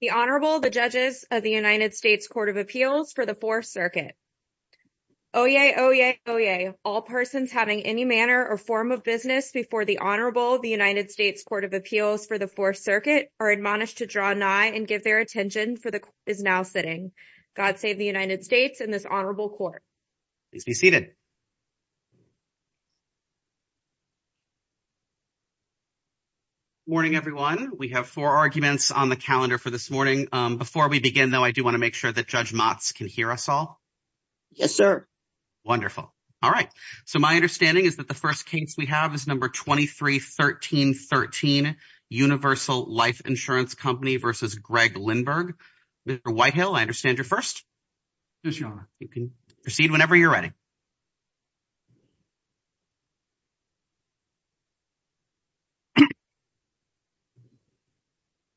The Honorable, the Judges of the United States Court of Appeals for the Fourth Circuit. Oyez, oyez, oyez, all persons having any manner or form of business before the Honorable, the United States Court of Appeals for the Fourth Circuit are admonished to draw nigh and give their attention for the Court is now sitting. God save the United States and this Honorable Court. Please be seated. Morning, everyone. We have four arguments on the calendar for this morning. Before we begin, though, I do want to make sure that Judge Motz can hear us all. Yes, sir. Wonderful. All right. So my understanding is that the first case we have is number 231313 Universal Life Insurance Company v. Greg Lindberg. Mr. Whitehill, I understand you're first. Yes, Your Honor. You can proceed whenever you're ready.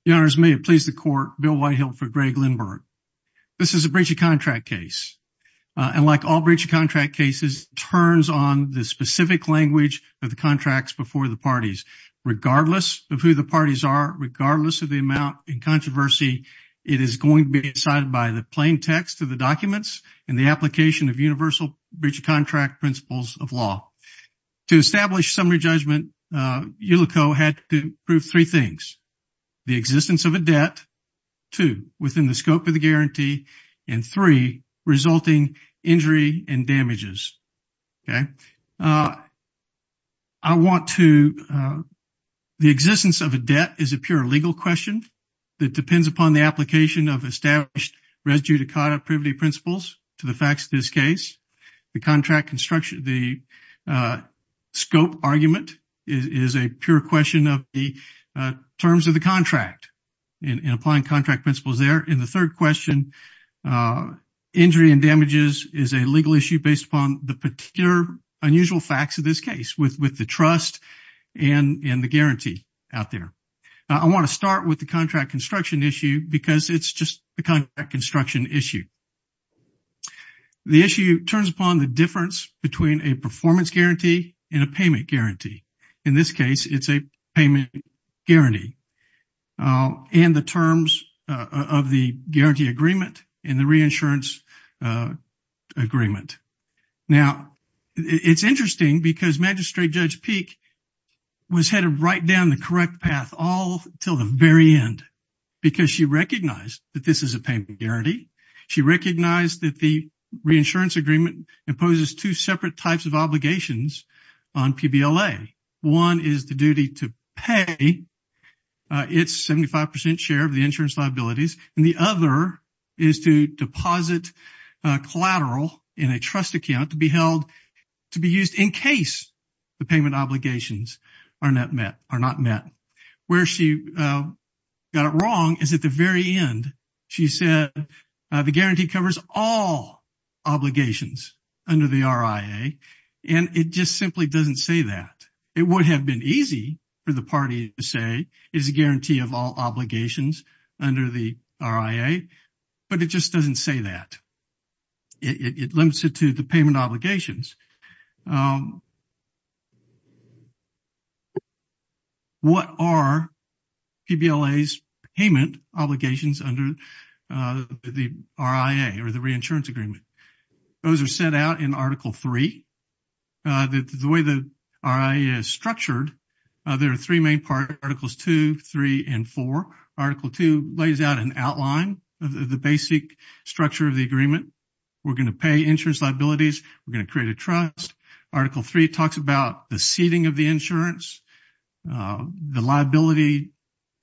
Your Honors, may it please the Court, Bill Whitehill for Greg Lindberg. This is a breach of contract case, and like all breach of contract cases, turns on the specific language of the contracts before the parties. Regardless of who the parties are, regardless of the amount in controversy, it is going to be decided by the plain text of the documents and the application of universal breach of contract principles of law. To establish summary judgment, ULICO had to prove three things. The existence of a debt, two, within the scope of the guarantee, and three, resulting injury and damages. OK. I want to, the existence of a debt is a pure legal question that depends upon the application of established res judicata privity principles to the facts of this case. The contract construction, the scope argument is a pure question of the terms of the contract and applying contract principles there. And the third question, injury and damages is a legal issue based upon the particular unusual facts of this case with the trust and the guarantee out there. I want to start with the contract construction issue because it's just a contract construction issue. The issue turns upon the difference between a performance guarantee and a payment guarantee. In this case, it's a payment guarantee and the terms of the guarantee agreement and the reinsurance agreement. Now, it's interesting because Magistrate Judge Peek was had to write down the correct path all till the very end because she recognized that this is a payment guarantee. She recognized that the reinsurance agreement imposes two separate types of obligations on PBLA. One is the duty to pay its 75 percent share of the insurance liabilities. And the other is to deposit collateral in a trust account to be held to be used in case the payment obligations are not met, are not met. Where she got it wrong is at the very end, she said the guarantee covers all obligations under the RIA, and it just simply doesn't say that it would have been easy for the party to say is a guarantee of all obligations under the RIA, but it just doesn't say that. It limits it to the payment obligations. What are PBLA's payment obligations under the RIA or the reinsurance agreement? Those are set out in Article 3. The way the RIA is structured, there are three main particles, 2, 3, and 4. Article 2 lays out an outline of the basic structure of the agreement. We're going to pay insurance liabilities. We're going to create a trust. Article 3 talks about the seating of the insurance, the liability,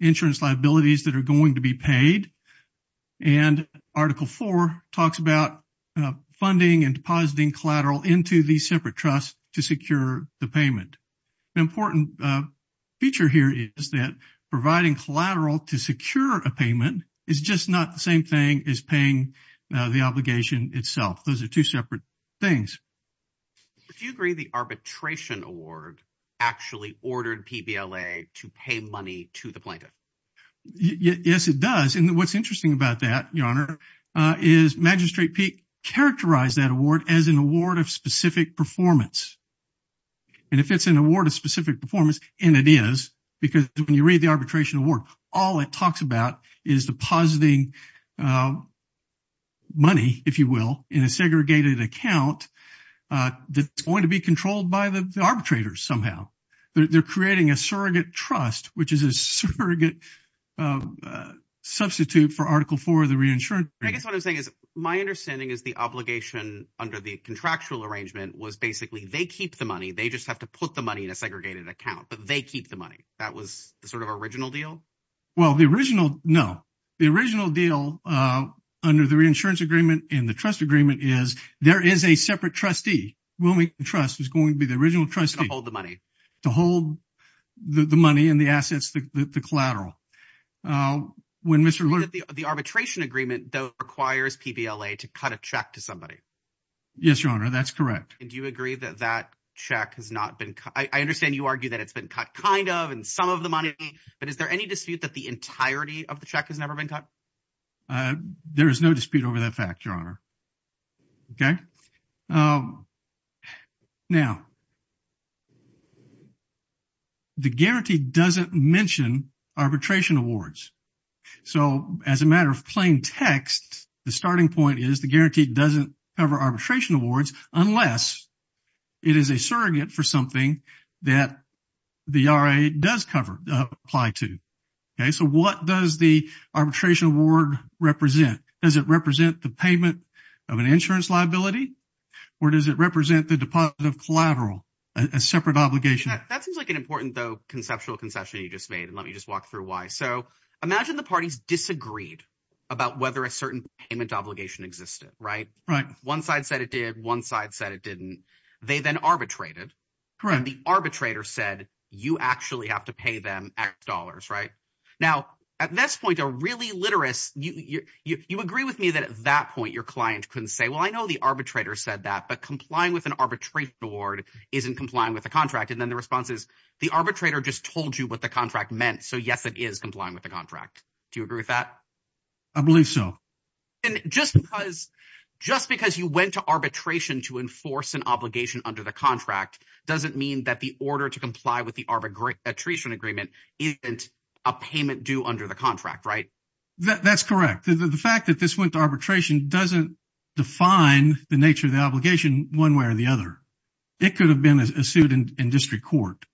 insurance liabilities that are going to be paid. And Article 4 talks about funding and depositing collateral into these separate trusts to secure the payment. An important feature here is that providing collateral to secure a payment is just not the same thing as paying the obligation itself. Those are two separate things. Do you agree the arbitration award actually ordered PBLA to pay money to the plaintiff? Yes, it does. And what's interesting about that, Your Honor, is Magistrate Peek characterized that award as an award of specific performance. And if it's an award of specific performance, and it is because when you read the arbitration award, all it talks about is depositing money, if you will, in a segregated account that's going to be controlled by the arbitrators somehow. They're creating a surrogate trust, which is a surrogate substitute for Article 4 of the reinsurance agreement. So I guess what I'm saying is my understanding is the obligation under the contractual arrangement was basically they keep the money. They just have to put the money in a segregated account, but they keep the money. That was the sort of original deal? Well, the original – no. The original deal under the reinsurance agreement and the trust agreement is there is a separate trustee. Wilmington Trust is going to be the original trustee to hold the money and the assets, the collateral. The arbitration agreement, though, requires PBLA to cut a check to somebody. Yes, Your Honor. That's correct. And do you agree that that check has not been – I understand you argue that it's been cut kind of and some of the money, but is there any dispute that the entirety of the check has never been cut? There is no dispute over that fact, Your Honor. Okay. Now, the guarantee doesn't mention arbitration awards. So as a matter of plain text, the starting point is the guarantee doesn't cover arbitration awards unless it is a surrogate for something that the RA does cover – apply to. Okay. So what does the arbitration award represent? Does it represent the payment of an insurance liability or does it represent the deposit of collateral, a separate obligation? That seems like an important, though, conceptual concession you just made, and let me just walk through why. So imagine the parties disagreed about whether a certain payment obligation existed, right? Right. One side said it did. One side said it didn't. They then arbitrated. Correct. And the arbitrator said you actually have to pay them X dollars, right? Now, at this point, a really literous – you agree with me that at that point your client couldn't say, well, I know the arbitrator said that, but complying with an arbitration award isn't complying with the contract. And then the response is the arbitrator just told you what the contract meant, so, yes, it is complying with the contract. Do you agree with that? I believe so. And just because – just because you went to arbitration to enforce an obligation under the contract doesn't mean that the order to comply with the arbitration agreement isn't a payment due under the contract, right? That's correct. The fact that this went to arbitration doesn't define the nature of the obligation one way or the other. It could have been a suit in district court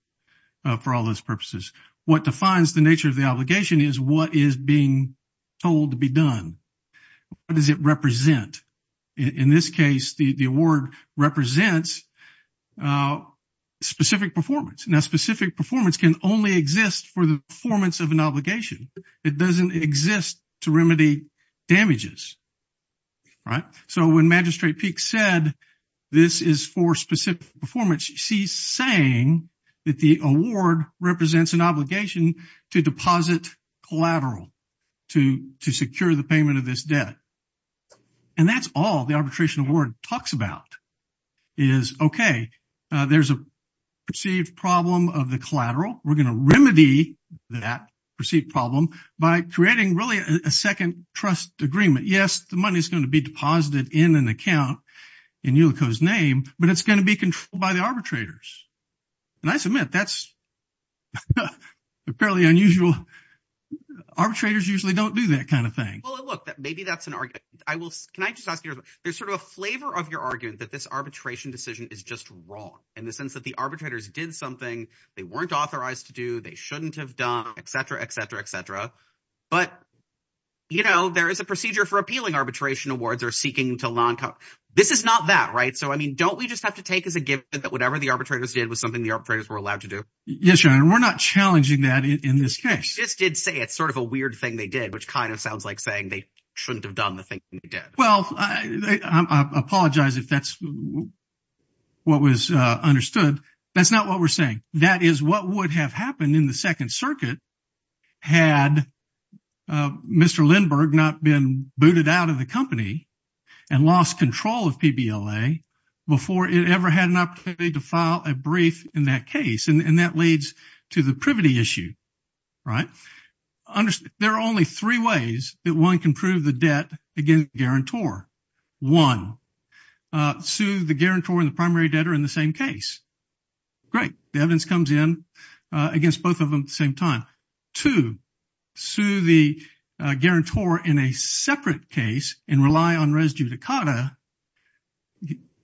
for all those purposes. What defines the nature of the obligation is what is being told to be done. What does it represent? In this case, the award represents specific performance. Now, specific performance can only exist for the performance of an obligation. It doesn't exist to remedy damages, right? So when Magistrate Peek said this is for specific performance, she's saying that the award represents an obligation to deposit collateral to secure the payment of this debt. And that's all the arbitration award talks about is, okay, there's a perceived problem of the collateral. We're going to remedy that perceived problem by creating really a second trust agreement. Yes, the money is going to be deposited in an account in ULICO's name, but it's going to be controlled by the arbitrators. And I submit that's apparently unusual. Arbitrators usually don't do that kind of thing. Well, look, maybe that's an argument. Can I just ask you, there's sort of a flavor of your argument that this arbitration decision is just wrong in the sense that the arbitrators did something they weren't authorized to do, they shouldn't have done, et cetera, et cetera, et cetera. But, you know, there is a procedure for appealing arbitration awards or seeking to law and code. This is not that, right? So, I mean, don't we just have to take as a given that whatever the arbitrators did was something the arbitrators were allowed to do? Yes, Your Honor, we're not challenging that in this case. They just did say it's sort of a weird thing they did, which kind of sounds like saying they shouldn't have done the thing they did. Well, I apologize if that's what was understood. That's not what we're saying. That is what would have happened in the Second Circuit had Mr. Lindbergh not been booted out of the company and lost control of PBLA before it ever had an opportunity to file a brief in that case. And that leads to the privity issue, right? There are only three ways that one can prove the debt against the guarantor. One, sue the guarantor and the primary debtor in the same case. Great. The evidence comes in against both of them at the same time. Two, sue the guarantor in a separate case and rely on res judicata.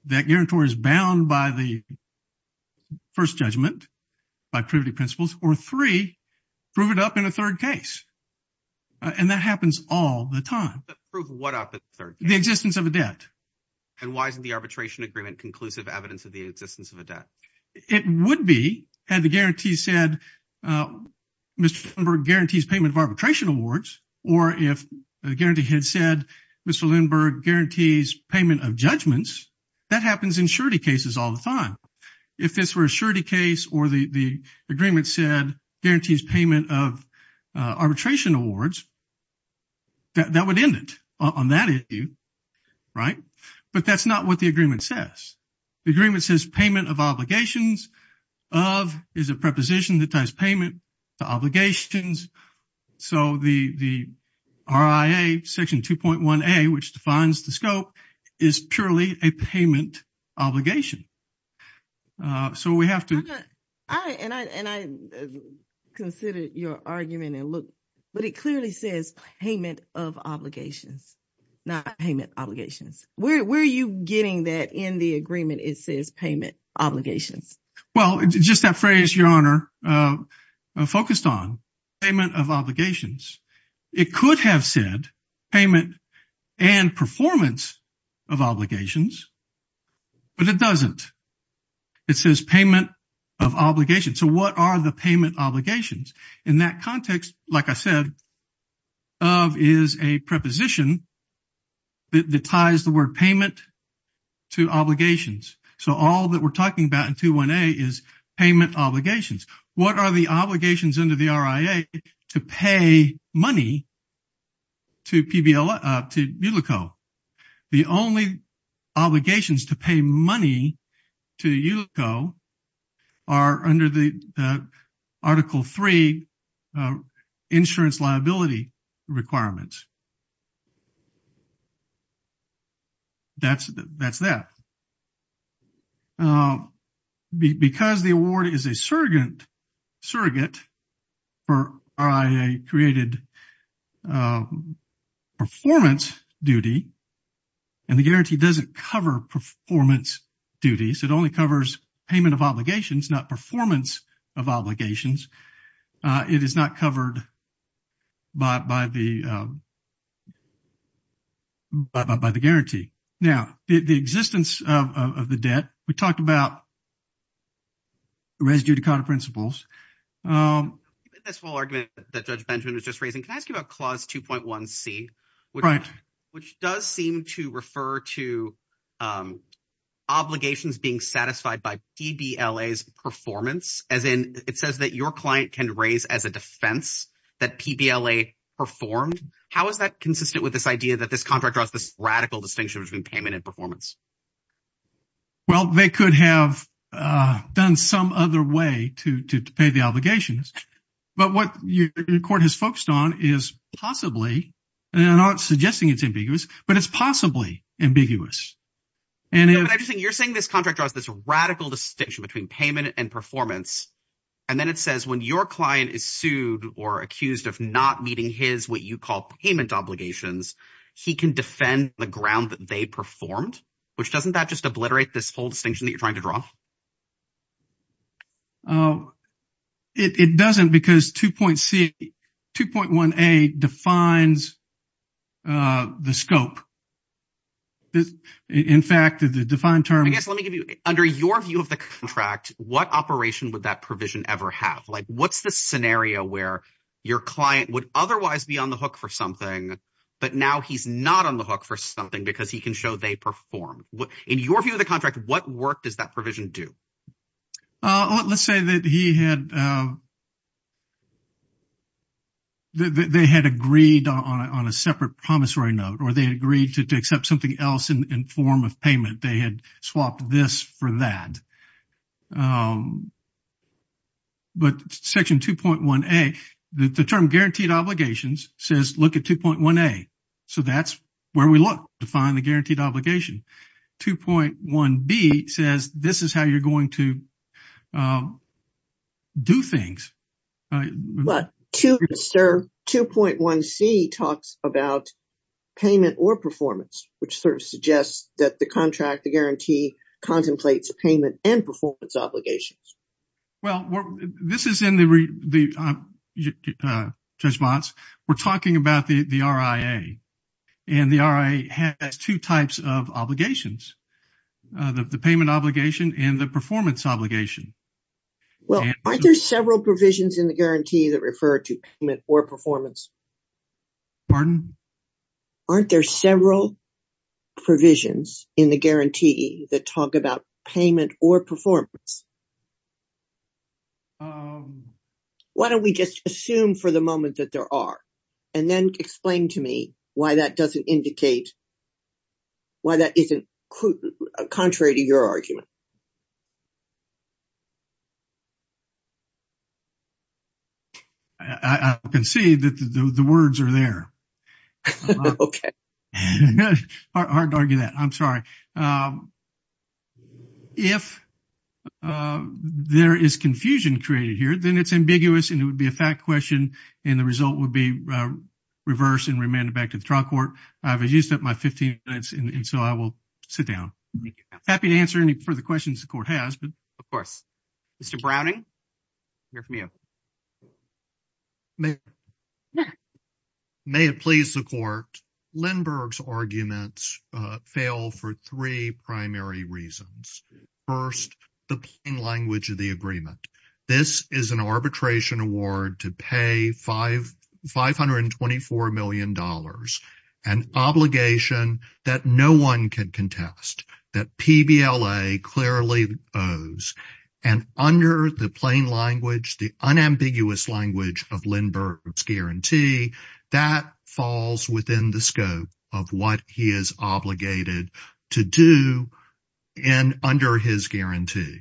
That guarantor is bound by the first judgment, by privity principles. Or three, prove it up in a third case. And that happens all the time. But prove what up in the third case? The existence of a debt. And why isn't the arbitration agreement conclusive evidence of the existence of a debt? It would be had the guarantee said Mr. Lindbergh guarantees payment of arbitration awards. Or if the guarantee had said Mr. Lindbergh guarantees payment of judgments, that happens in surety cases all the time. If this were a surety case or the agreement said guarantees payment of arbitration awards, that would end it on that issue, right? But that's not what the agreement says. The agreement says payment of obligations of is a preposition that ties payment to obligations. So the RIA Section 2.1a, which defines the scope, is purely a payment obligation. So we have to. And I consider your argument and look. But it clearly says payment of obligations, not payment obligations. Where are you getting that in the agreement it says payment obligations? Well, just that phrase, Your Honor, focused on payment of obligations. It could have said payment and performance of obligations, but it doesn't. It says payment of obligations. So what are the payment obligations? In that context, like I said, of is a preposition that ties the word payment to obligations. So all that we're talking about in 2.1a is payment obligations. What are the obligations under the RIA to pay money to ULICO? The only obligations to pay money to ULICO are under the Article 3 insurance liability requirements. That's that. Because the award is a surrogate, surrogate, RIA created performance duty. And the guarantee doesn't cover performance duties. It only covers payment of obligations, not performance of obligations. It is not covered by the guarantee. Now, the existence of the debt, we talked about residue to counterprinciples. This whole argument that Judge Benjamin was just raising, can I ask you about Clause 2.1c? Right. Which does seem to refer to obligations being satisfied by PBLA's performance, as in it says that your client can raise as a defense that PBLA performed. How is that consistent with this idea that this contract draws this radical distinction between payment and performance? Well, they could have done some other way to pay the obligations. But what your court has focused on is possibly, and I'm not suggesting it's ambiguous, but it's possibly ambiguous. You're saying this contract draws this radical distinction between payment and performance. And then it says when your client is sued or accused of not meeting his, what you call payment obligations, he can defend the ground that they performed, which doesn't that just obliterate this whole distinction that you're trying to draw? It doesn't because 2.1c, 2.1a defines the scope. In fact, the defined term— I guess let me give you, under your view of the contract, what operation would that provision ever have? Like what's the scenario where your client would otherwise be on the hook for something, but now he's not on the hook for something because he can show they performed? In your view of the contract, what work does that provision do? Let's say that he had—that they had agreed on a separate promissory note or they agreed to accept something else in form of payment. They had swapped this for that. But Section 2.1a, the term guaranteed obligations says look at 2.1a. So that's where we look to find the guaranteed obligation. 2.1b says this is how you're going to do things. But 2.1c talks about payment or performance, which sort of suggests that the contract, the guarantee contemplates payment and performance obligations. Well, this is in the response. We're talking about the RIA, and the RIA has two types of obligations, the payment obligation and the performance obligation. Well, aren't there several provisions in the guarantee that refer to payment or performance? Pardon? Aren't there several provisions in the guarantee that talk about payment or performance? Why don't we just assume for the moment that there are and then explain to me why that doesn't indicate—why that isn't contrary to your argument? I can see that the words are there. Okay. Hard to argue that. I'm sorry. If there is confusion created here, then it's ambiguous and it would be a fact question, and the result would be reverse and remanded back to the trial court. I've used up my 15 minutes, and so I will sit down. Happy to answer any further questions the court has. Of course. Mr. Browning, we'll hear from you. May it please the court? Lindbergh's arguments fail for three primary reasons. First, the plain language of the agreement. This is an arbitration award to pay $524 million, an obligation that no one can contest, that PBLA clearly owes, and under the plain language, the unambiguous language of Lindbergh's guarantee, that falls within the scope of what he is obligated to do under his guarantee.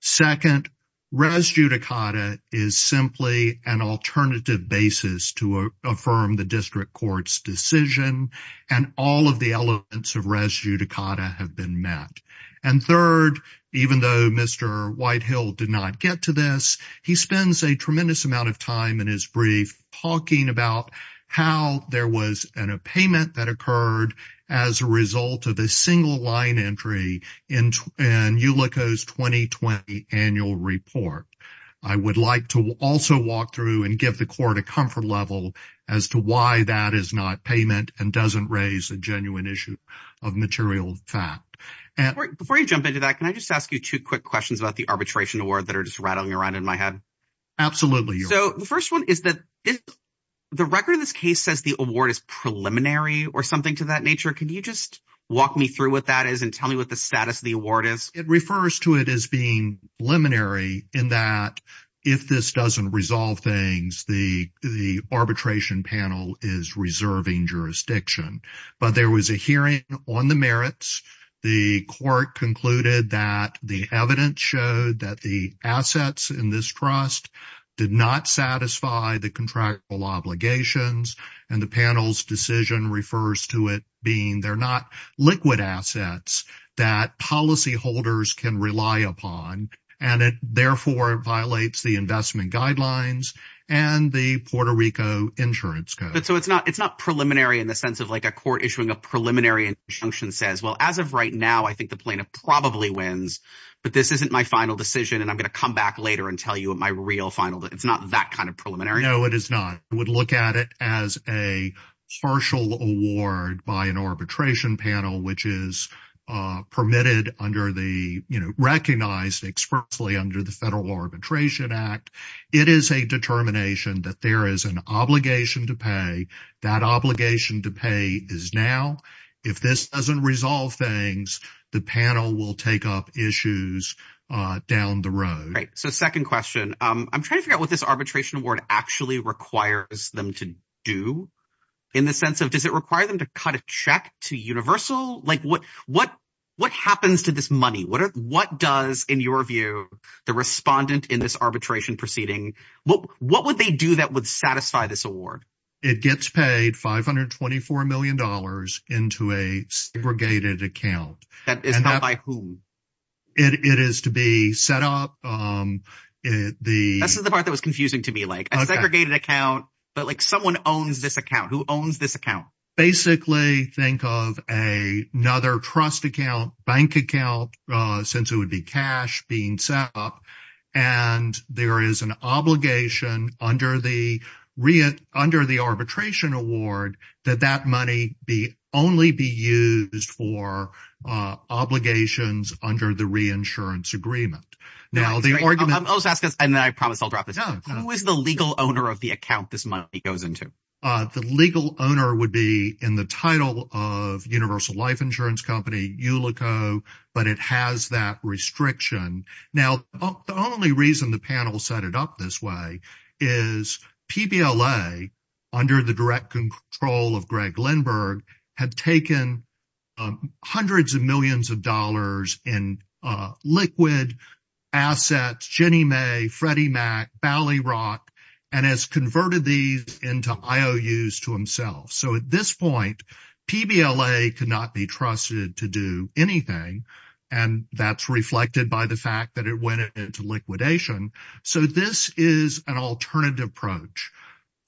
Second, res judicata is simply an alternative basis to affirm the district court's decision, and all of the elements of res judicata have been met. And third, even though Mr. Whitehill did not get to this, he spends a tremendous amount of time in his brief talking about how there was a payment that occurred as a result of a single line entry in ULICO's 2020 annual report. I would like to also walk through and give the court a comfort level as to why that is not payment and doesn't raise a genuine issue of material fact. Before you jump into that, can I just ask you two quick questions about the arbitration award that are just rattling around in my head? Absolutely. So the first one is that the record of this case says the award is preliminary or something to that nature. Can you just walk me through what that is and tell me what the status of the award is? It refers to it as being preliminary in that if this doesn't resolve things, the arbitration panel is reserving jurisdiction. But there was a hearing on the merits. The court concluded that the evidence showed that the assets in this trust did not satisfy the contractual obligations, and the panel's decision refers to it being they're not liquid assets that policyholders can rely upon, and it therefore violates the investment guidelines and the Puerto Rico insurance code. So it's not preliminary in the sense of like a court issuing a preliminary injunction says, well, as of right now, I think the plaintiff probably wins, but this isn't my final decision, and I'm going to come back later and tell you my real final. It's not that kind of preliminary. No, it is not. I would look at it as a partial award by an arbitration panel, which is permitted under the – recognized expertly under the Federal Arbitration Act. It is a determination that there is an obligation to pay. That obligation to pay is now. If this doesn't resolve things, the panel will take up issues down the road. So second question, I'm trying to figure out what this arbitration award actually requires them to do in the sense of – does it require them to cut a check to universal? Like what happens to this money? What does, in your view, the respondent in this arbitration proceeding – what would they do that would satisfy this award? It gets paid $524 million into a segregated account. That is held by whom? It is to be set up. This is the part that was confusing to me, like a segregated account, but like someone owns this account. Who owns this account? Basically think of another trust account, bank account, since it would be cash being set up, and there is an obligation under the arbitration award that that money only be used for obligations under the reinsurance agreement. Now the argument – I'll just ask this, and then I promise I'll drop this. Who is the legal owner of the account this money goes into? The legal owner would be in the title of Universal Life Insurance Company, ULICO, but it has that restriction. Now the only reason the panel set it up this way is PBLA, under the direct control of Greg Lindbergh, had taken hundreds of millions of dollars in liquid assets – So at this point, PBLA could not be trusted to do anything, and that's reflected by the fact that it went into liquidation. So this is an alternative approach.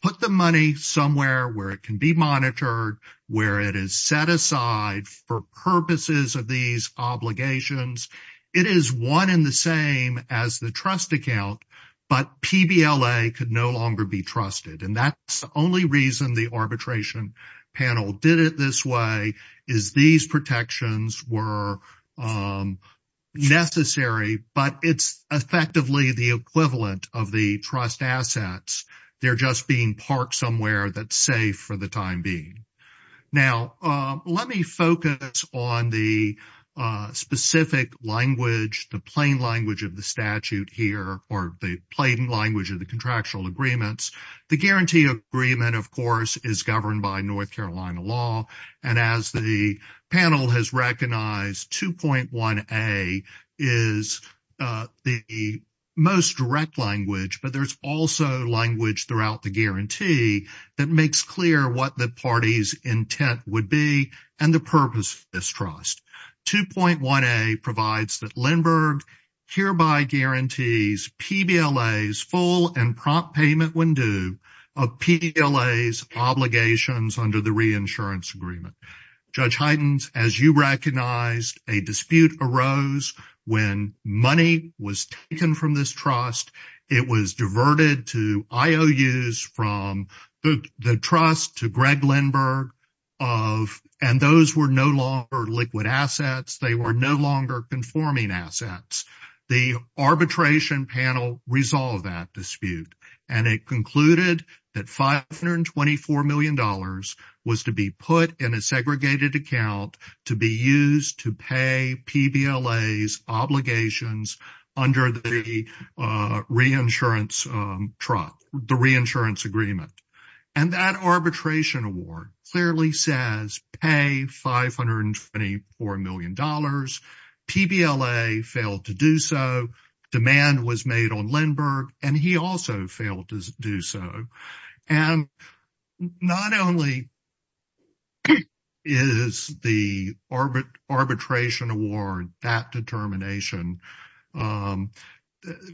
Put the money somewhere where it can be monitored, where it is set aside for purposes of these obligations. It is one and the same as the trust account, but PBLA could no longer be trusted. And that's the only reason the arbitration panel did it this way, is these protections were necessary, but it's effectively the equivalent of the trust assets. They're just being parked somewhere that's safe for the time being. Now let me focus on the specific language, the plain language of the statute here, or the plain language of the contractual agreements. The guarantee agreement, of course, is governed by North Carolina law, and as the panel has recognized, 2.1a is the most direct language, but there's also language throughout the guarantee that makes clear what the party's intent would be and the purpose of this trust. 2.1a provides that Lindbergh hereby guarantees PBLA's full and prompt payment when due of PBLA's obligations under the reinsurance agreement. Judge Hytens, as you recognized, a dispute arose when money was taken from this trust. It was diverted to IOUs from the trust to Greg Lindbergh, and those were no longer liquid assets. They were no longer conforming assets. The arbitration panel resolved that dispute, and it concluded that $524 million was to be put in a segregated account to be used to pay PBLA's obligations under the reinsurance agreement, and that arbitration award clearly says pay $524 million. PBLA failed to do so. Demand was made on Lindbergh, and he also failed to do so, and not only is the arbitration award that determination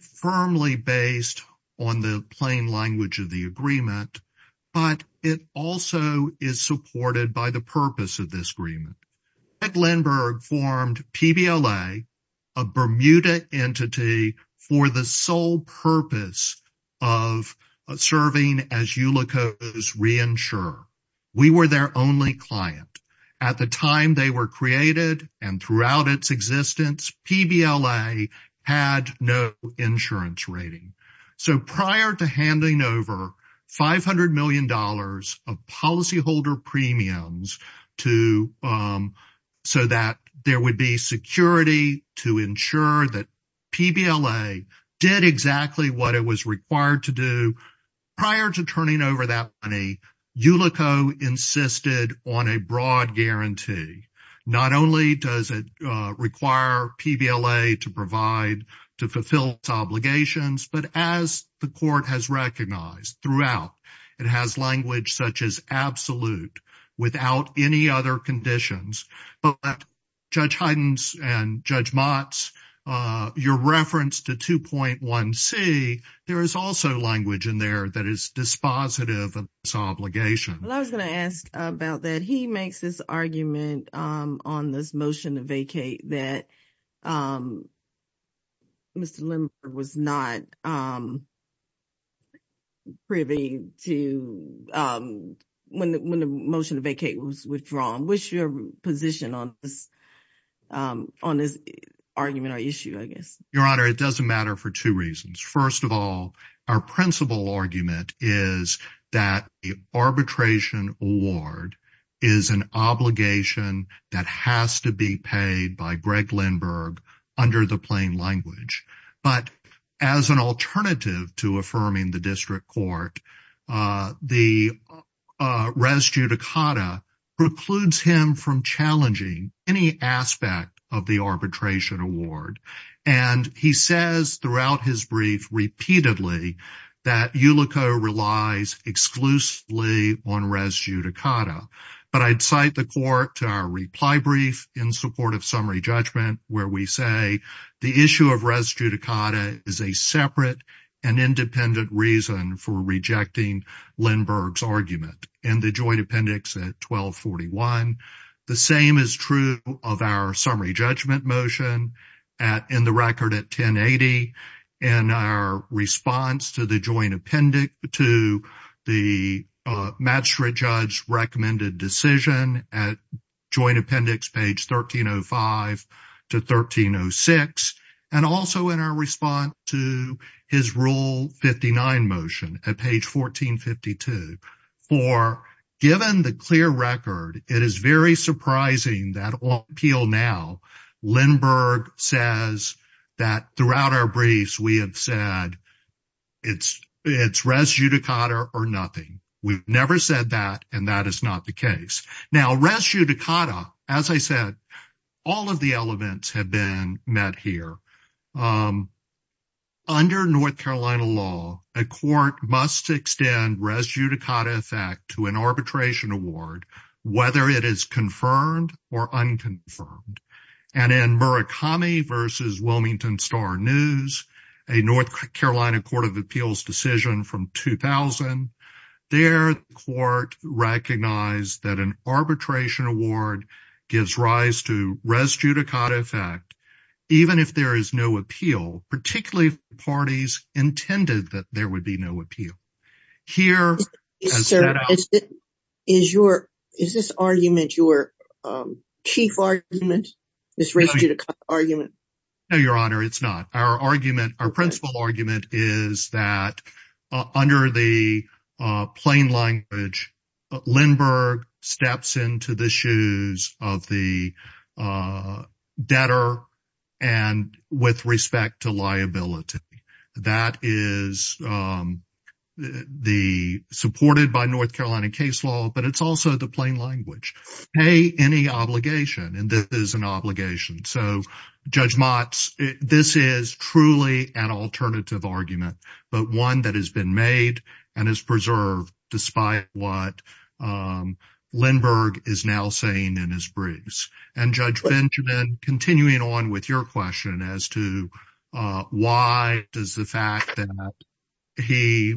firmly based on the plain language of the agreement, but it also is supported by the purpose of this agreement. Greg Lindbergh formed PBLA, a Bermuda entity, for the sole purpose of serving as Ulico's reinsurer. We were their only client. At the time they were created and throughout its existence, PBLA had no insurance rating. So prior to handing over $500 million of policyholder premiums so that there would be security to ensure that PBLA did exactly what it was required to do, prior to turning over that money, Ulico insisted on a broad guarantee. Not only does it require PBLA to provide, to fulfill its obligations, but as the court has recognized throughout, it has language such as absolute without any other conditions. But Judge Heiden's and Judge Mott's, your reference to 2.1C, there is also language in there that is dispositive of this obligation. Well, I was going to ask about that. He makes this argument on this motion to vacate that Mr. Lindbergh was not privy to when the motion to vacate was withdrawn. What's your position on this argument or issue, I guess? Your Honor, it doesn't matter for two reasons. First of all, our principal argument is that the arbitration award is an obligation that has to be paid by Greg Lindbergh under the plain language. But as an alternative to affirming the district court, the res judicata precludes him from challenging any aspect of the arbitration award. And he says throughout his brief repeatedly that Ulico relies exclusively on res judicata. But I'd cite the court to our reply brief in support of summary judgment where we say the issue of res judicata is a separate and independent reason for rejecting Lindbergh's argument. In the joint appendix at 1241, the same is true of our summary judgment motion in the record at 1080. And our response to the joint appendix to the magistrate judge's recommended decision at joint appendix page 1305 to 1306. And also in our response to his Rule 59 motion at page 1452. For given the clear record, it is very surprising that on appeal now Lindbergh says that throughout our briefs we have said it's res judicata or nothing. We've never said that, and that is not the case. Now, res judicata, as I said, all of the elements have been met here. Under North Carolina law, a court must extend res judicata effect to an arbitration award, whether it is confirmed or unconfirmed. And in Murakami v. Wilmington Star News, a North Carolina court of appeals decision from 2000, there the court recognized that an arbitration award gives rise to res judicata effect even if there is no appeal, particularly if the parties intended that there would be no appeal. Is this argument your chief argument, this res judicata argument? No, Your Honor, it's not. Our argument, our principal argument is that under the plain language, Lindbergh steps into the shoes of the debtor and with respect to liability. That is supported by North Carolina case law, but it's also the plain language. Pay any obligation, and this is an obligation. So, Judge Motz, this is truly an alternative argument, but one that has been made and is preserved despite what Lindbergh is now saying in his briefs. And Judge Benjamin, continuing on with your question as to why does the fact that he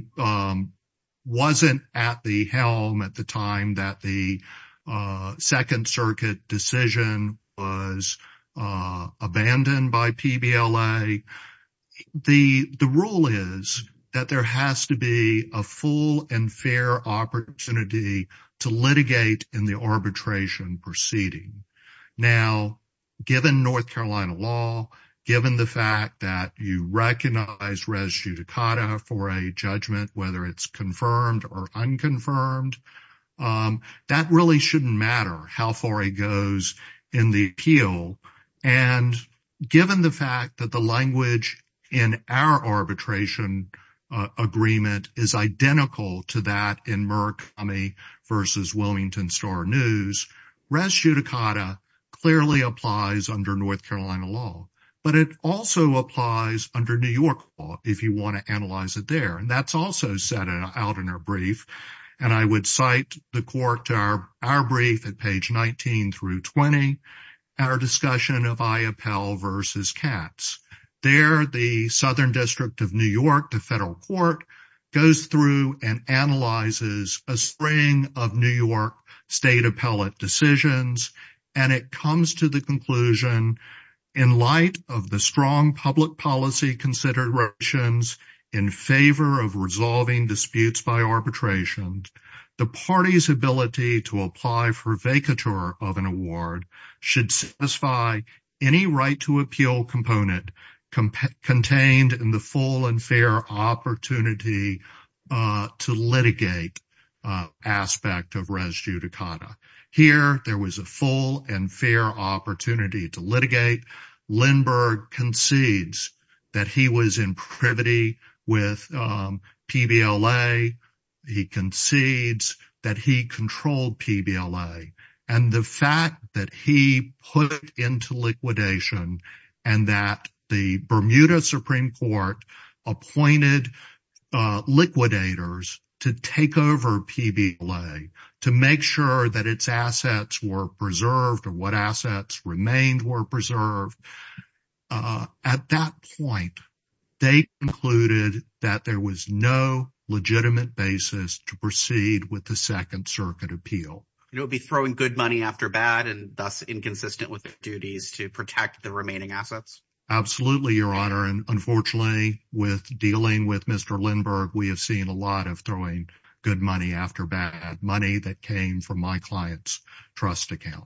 wasn't at the helm at the time that the Second Circuit decision was abandoned by PBLA, the rule is that there has to be a full and fair opportunity to litigate in the arbitration proceeding. Now, given North Carolina law, given the fact that you recognize res judicata for a judgment, whether it's confirmed or unconfirmed, that really shouldn't matter how far it goes in the appeal. And given the fact that the language in our arbitration agreement is identical to that in Murakami v. Wilmington Star News, res judicata clearly applies under North Carolina law, but it also applies under New York law if you want to analyze it there. And that's also set out in our brief, and I would cite the court to our brief at page 19 through 20, our discussion of I-Appel v. Katz. There, the Southern District of New York, the federal court, goes through and analyzes a string of New York state appellate decisions, and it comes to the conclusion, in light of the strong public policy considerations in favor of resolving disputes by arbitration, the party's ability to apply for vacatur of an award should satisfy any right to appeal component contained in the full and fair opportunity to litigate aspect of res judicata. Here, there was a full and fair opportunity to litigate. Lindbergh concedes that he was in privity with PBLA. He concedes that he controlled PBLA. And the fact that he put into liquidation and that the Bermuda Supreme Court appointed liquidators to take over PBLA to make sure that its assets were preserved or what assets remained were preserved, at that point, they concluded that there was no legitimate basis to proceed with the Second Circuit appeal. It would be throwing good money after bad and thus inconsistent with their duties to protect the remaining assets. Absolutely, Your Honor. And unfortunately, with dealing with Mr. Lindbergh, we have seen a lot of throwing good money after bad, money that came from my client's trust account.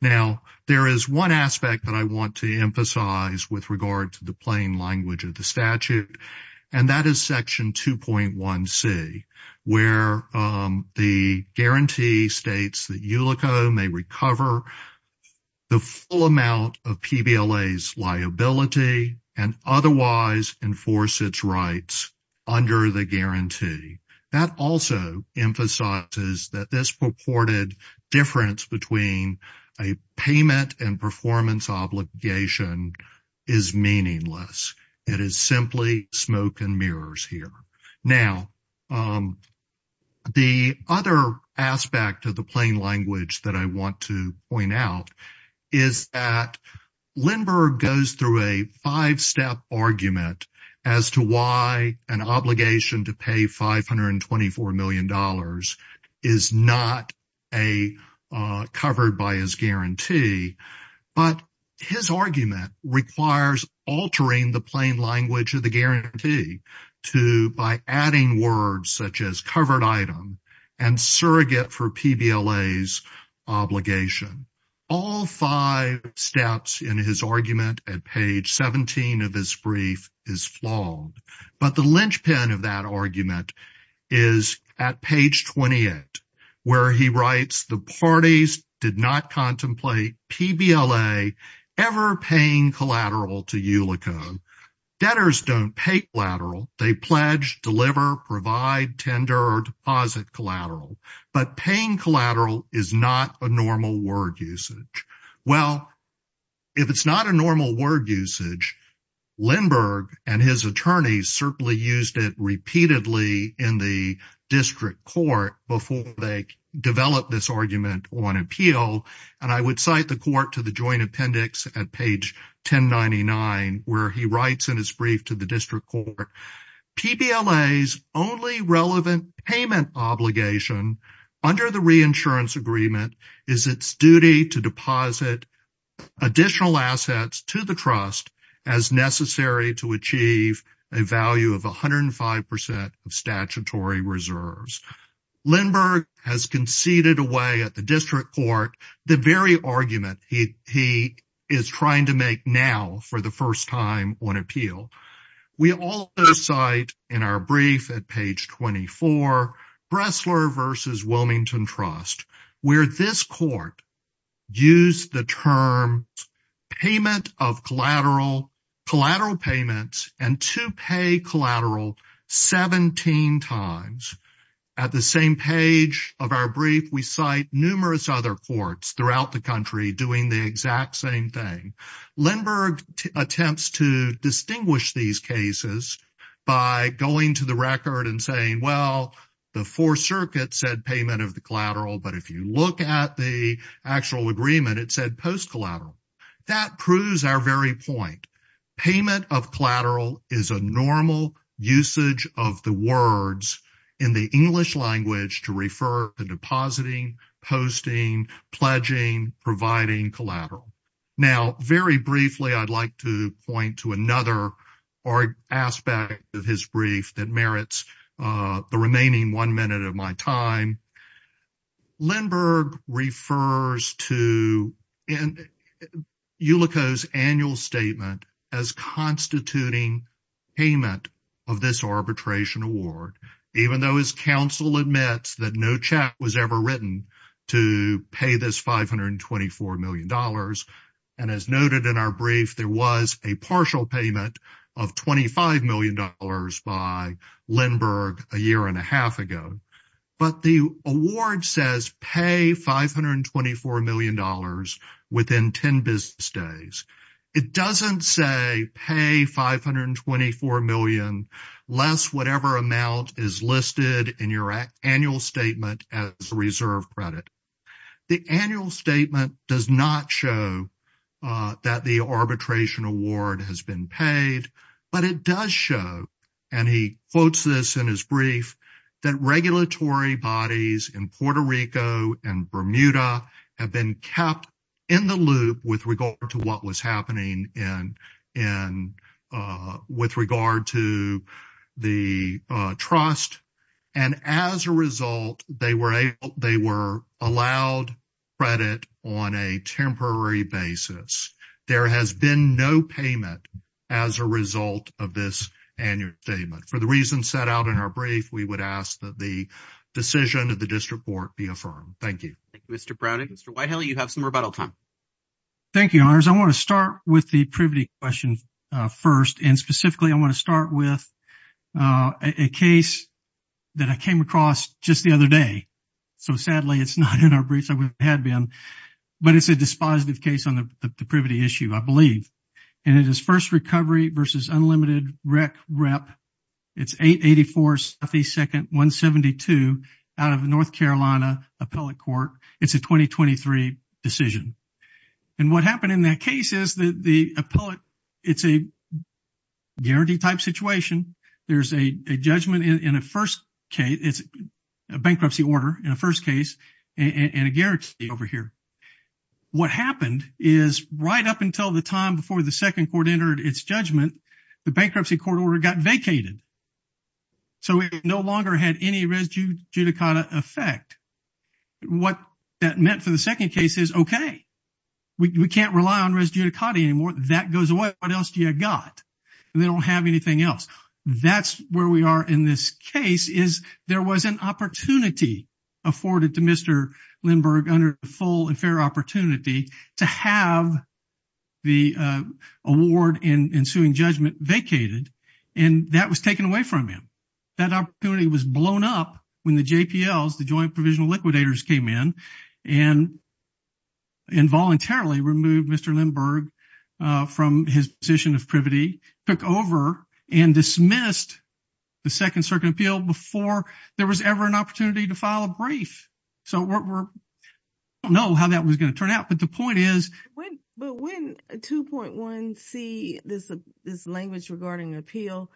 Now, there is one aspect that I want to emphasize with regard to the plain language of the statute, and that is Section 2.1c, where the guarantee states that ULICO may recover the full amount of PBLA's liability and otherwise enforce its rights under the guarantee. That also emphasizes that this purported difference between a payment and performance obligation is meaningless. It is simply smoke and mirrors here. Now, the other aspect of the plain language that I want to point out is that Lindbergh goes through a five-step argument as to why an obligation to pay $524 million is not covered by his guarantee. But his argument requires altering the plain language of the guarantee by adding words such as covered item and surrogate for PBLA's obligation. All five steps in his argument at page 17 of his brief is flawed. But the linchpin of that argument is at page 28, where he writes, The parties did not contemplate PBLA ever paying collateral to ULICO. Debtors don't pay collateral. They pledge, deliver, provide, tender, or deposit collateral. But paying collateral is not a normal word usage. Well, if it's not a normal word usage, Lindbergh and his attorneys certainly used it repeatedly in the district court before they developed this argument on appeal. And I would cite the court to the joint appendix at page 1099, where he writes in his brief to the district court, PBLA's only relevant payment obligation under the reinsurance agreement is its duty to deposit additional assets to the trust as necessary to achieve a value of 105% of statutory reserves. Lindbergh has conceded away at the district court the very argument he is trying to make now for the first time on appeal. We also cite in our brief at page 24, Bressler v. Wilmington Trust, where this court used the term payment of collateral, collateral payments, and to pay collateral 17 times. At the same page of our brief, we cite numerous other courts throughout the country doing the exact same thing. Lindbergh attempts to distinguish these cases by going to the record and saying, well, the Fourth Circuit said payment of the collateral, but if you look at the actual agreement, it said post-collateral. That proves our very point. Payment of collateral is a normal usage of the words in the English language to refer to depositing, posting, pledging, providing collateral. Now, very briefly, I'd like to point to another aspect of his brief that merits the remaining one minute of my time. Lindbergh refers to ULICO's annual statement as constituting payment of this arbitration award, even though his counsel admits that no check was ever written to pay this $524 million. And as noted in our brief, there was a partial payment of $25 million by Lindbergh a year and a half ago. But the award says pay $524 million within 10 business days. It doesn't say pay $524 million less whatever amount is listed in your annual statement as reserve credit. The annual statement does not show that the arbitration award has been paid, but it does show, and he quotes this in his brief, that regulatory bodies in Puerto Rico and Bermuda have been kept in the loop with regard to what was happening with regard to the trust. And as a result, they were allowed credit on a temporary basis. There has been no payment as a result of this annual statement. For the reasons set out in our brief, we would ask that the decision of the district court be affirmed. Thank you. Thank you, Mr. Browning. Mr. Whitehill, you have some rebuttal time. Thank you, Your Honors. I want to start with the privity question first. And specifically, I want to start with a case that I came across just the other day. So sadly, it's not in our briefs. It had been. But it's a dispositive case on the privity issue, I believe. And it is first recovery versus unlimited rec rep. It's 884 72nd 172 out of North Carolina Appellate Court. It's a 2023 decision. And what happened in that case is that the appellate it's a guarantee type situation. There's a judgment in a first case. It's a bankruptcy order in a first case and a guarantee over here. What happened is right up until the time before the second court entered its judgment, the bankruptcy court order got vacated. So we no longer had any res judicata effect. What that meant for the second case is, OK, we can't rely on res judicata anymore. That goes away. What else do you got? They don't have anything else. That's where we are in this case is there was an opportunity afforded to Mr. Lindberg under full and fair opportunity to have the award in ensuing judgment vacated. And that was taken away from him. That opportunity was blown up when the JPL is the joint provisional liquidators came in and. And voluntarily removed Mr. Lindberg from his position of privity, took over and dismissed the second circuit appeal before there was ever an opportunity to file a brief. So we don't know how that was going to turn out. But the point is. But when a two point one see this, this language regarding appeal,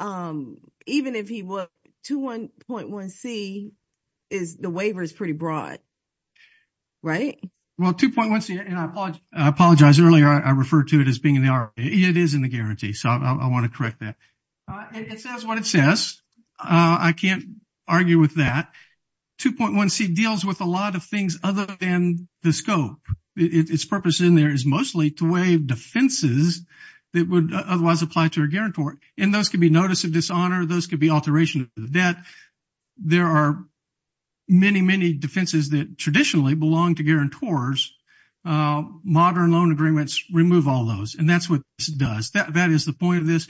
even if he were to one point, one C is the waiver is pretty broad. Right. Well, two point one. And I apologize. Earlier I referred to it as being in the it is in the guarantee. So I want to correct that. It says what it says. I can't argue with that. Two point one C deals with a lot of things other than the scope. Its purpose in there is mostly to waive defenses that would otherwise apply to a guarantor. And those can be notice of dishonor. Those could be alteration of debt. There are many, many defenses that traditionally belong to guarantors. Modern loan agreements remove all those. And that's what it does. That is the point of this.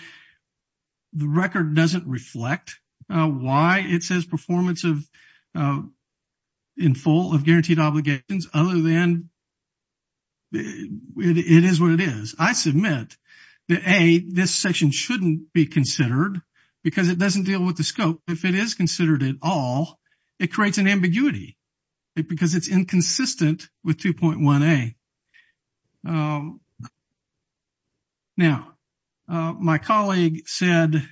The record doesn't reflect why it says performance of in full of guaranteed obligations other than. It is what it is. I submit that a this section shouldn't be considered because it doesn't deal with the scope. If it is considered at all, it creates an ambiguity because it's inconsistent with two point one a. Now, my colleague said,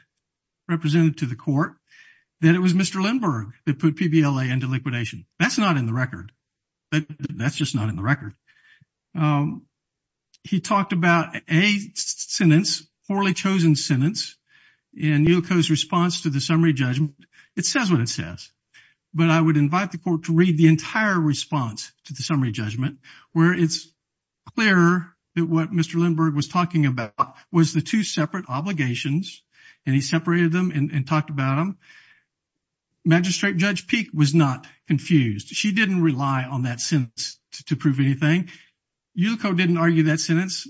represented to the court, that it was Mr. Lindbergh that put PBL into liquidation. That's not in the record. That's just not in the record. He talked about a sentence, poorly chosen sentence. And you chose response to the summary judgment. It says what it says. But I would invite the court to read the entire response to the summary judgment where it's clear that what Mr. Lindbergh was talking about was the two separate obligations. And he separated them and talked about them. Magistrate Judge Peak was not confused. She didn't rely on that sentence to prove anything. You didn't argue that sentence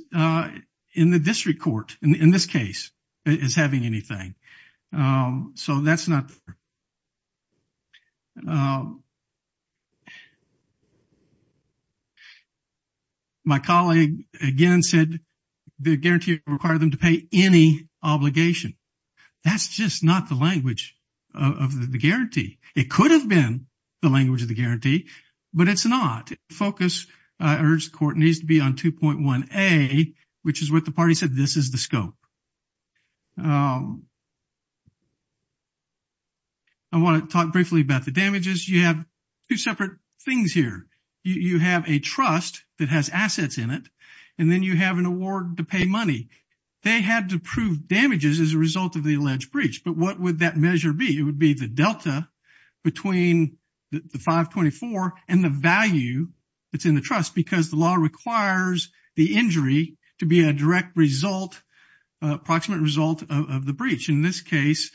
in the district court in this case is having anything. So that's not. My colleague again said the guarantee require them to pay any obligation. That's just not the language of the guarantee. It could have been the language of the guarantee, but it's not focus. I urge the court needs to be on 2.1a, which is what the party said. This is the scope. I want to talk briefly about the damages. You have two separate things here. You have a trust that has assets in it, and then you have an award to pay money. They had to prove damages as a result of the alleged breach. But what would that measure be? It would be the delta between the 524 and the value that's in the trust, because the law requires the injury to be a direct result, approximate result of the breach. In this case,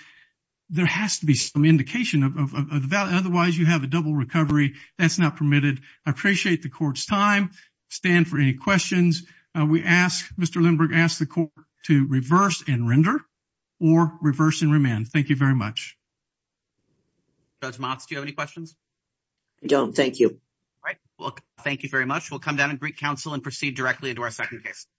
there has to be some indication of that. Otherwise, you have a double recovery. That's not permitted. I appreciate the court's time. Stand for any questions. We ask Mr. Lindbergh asked the court to reverse and render or reverse and remand. Thank you very much. Do you have any questions? I don't. Thank you. Thank you very much. We'll come down and greet counsel and proceed directly into our second case.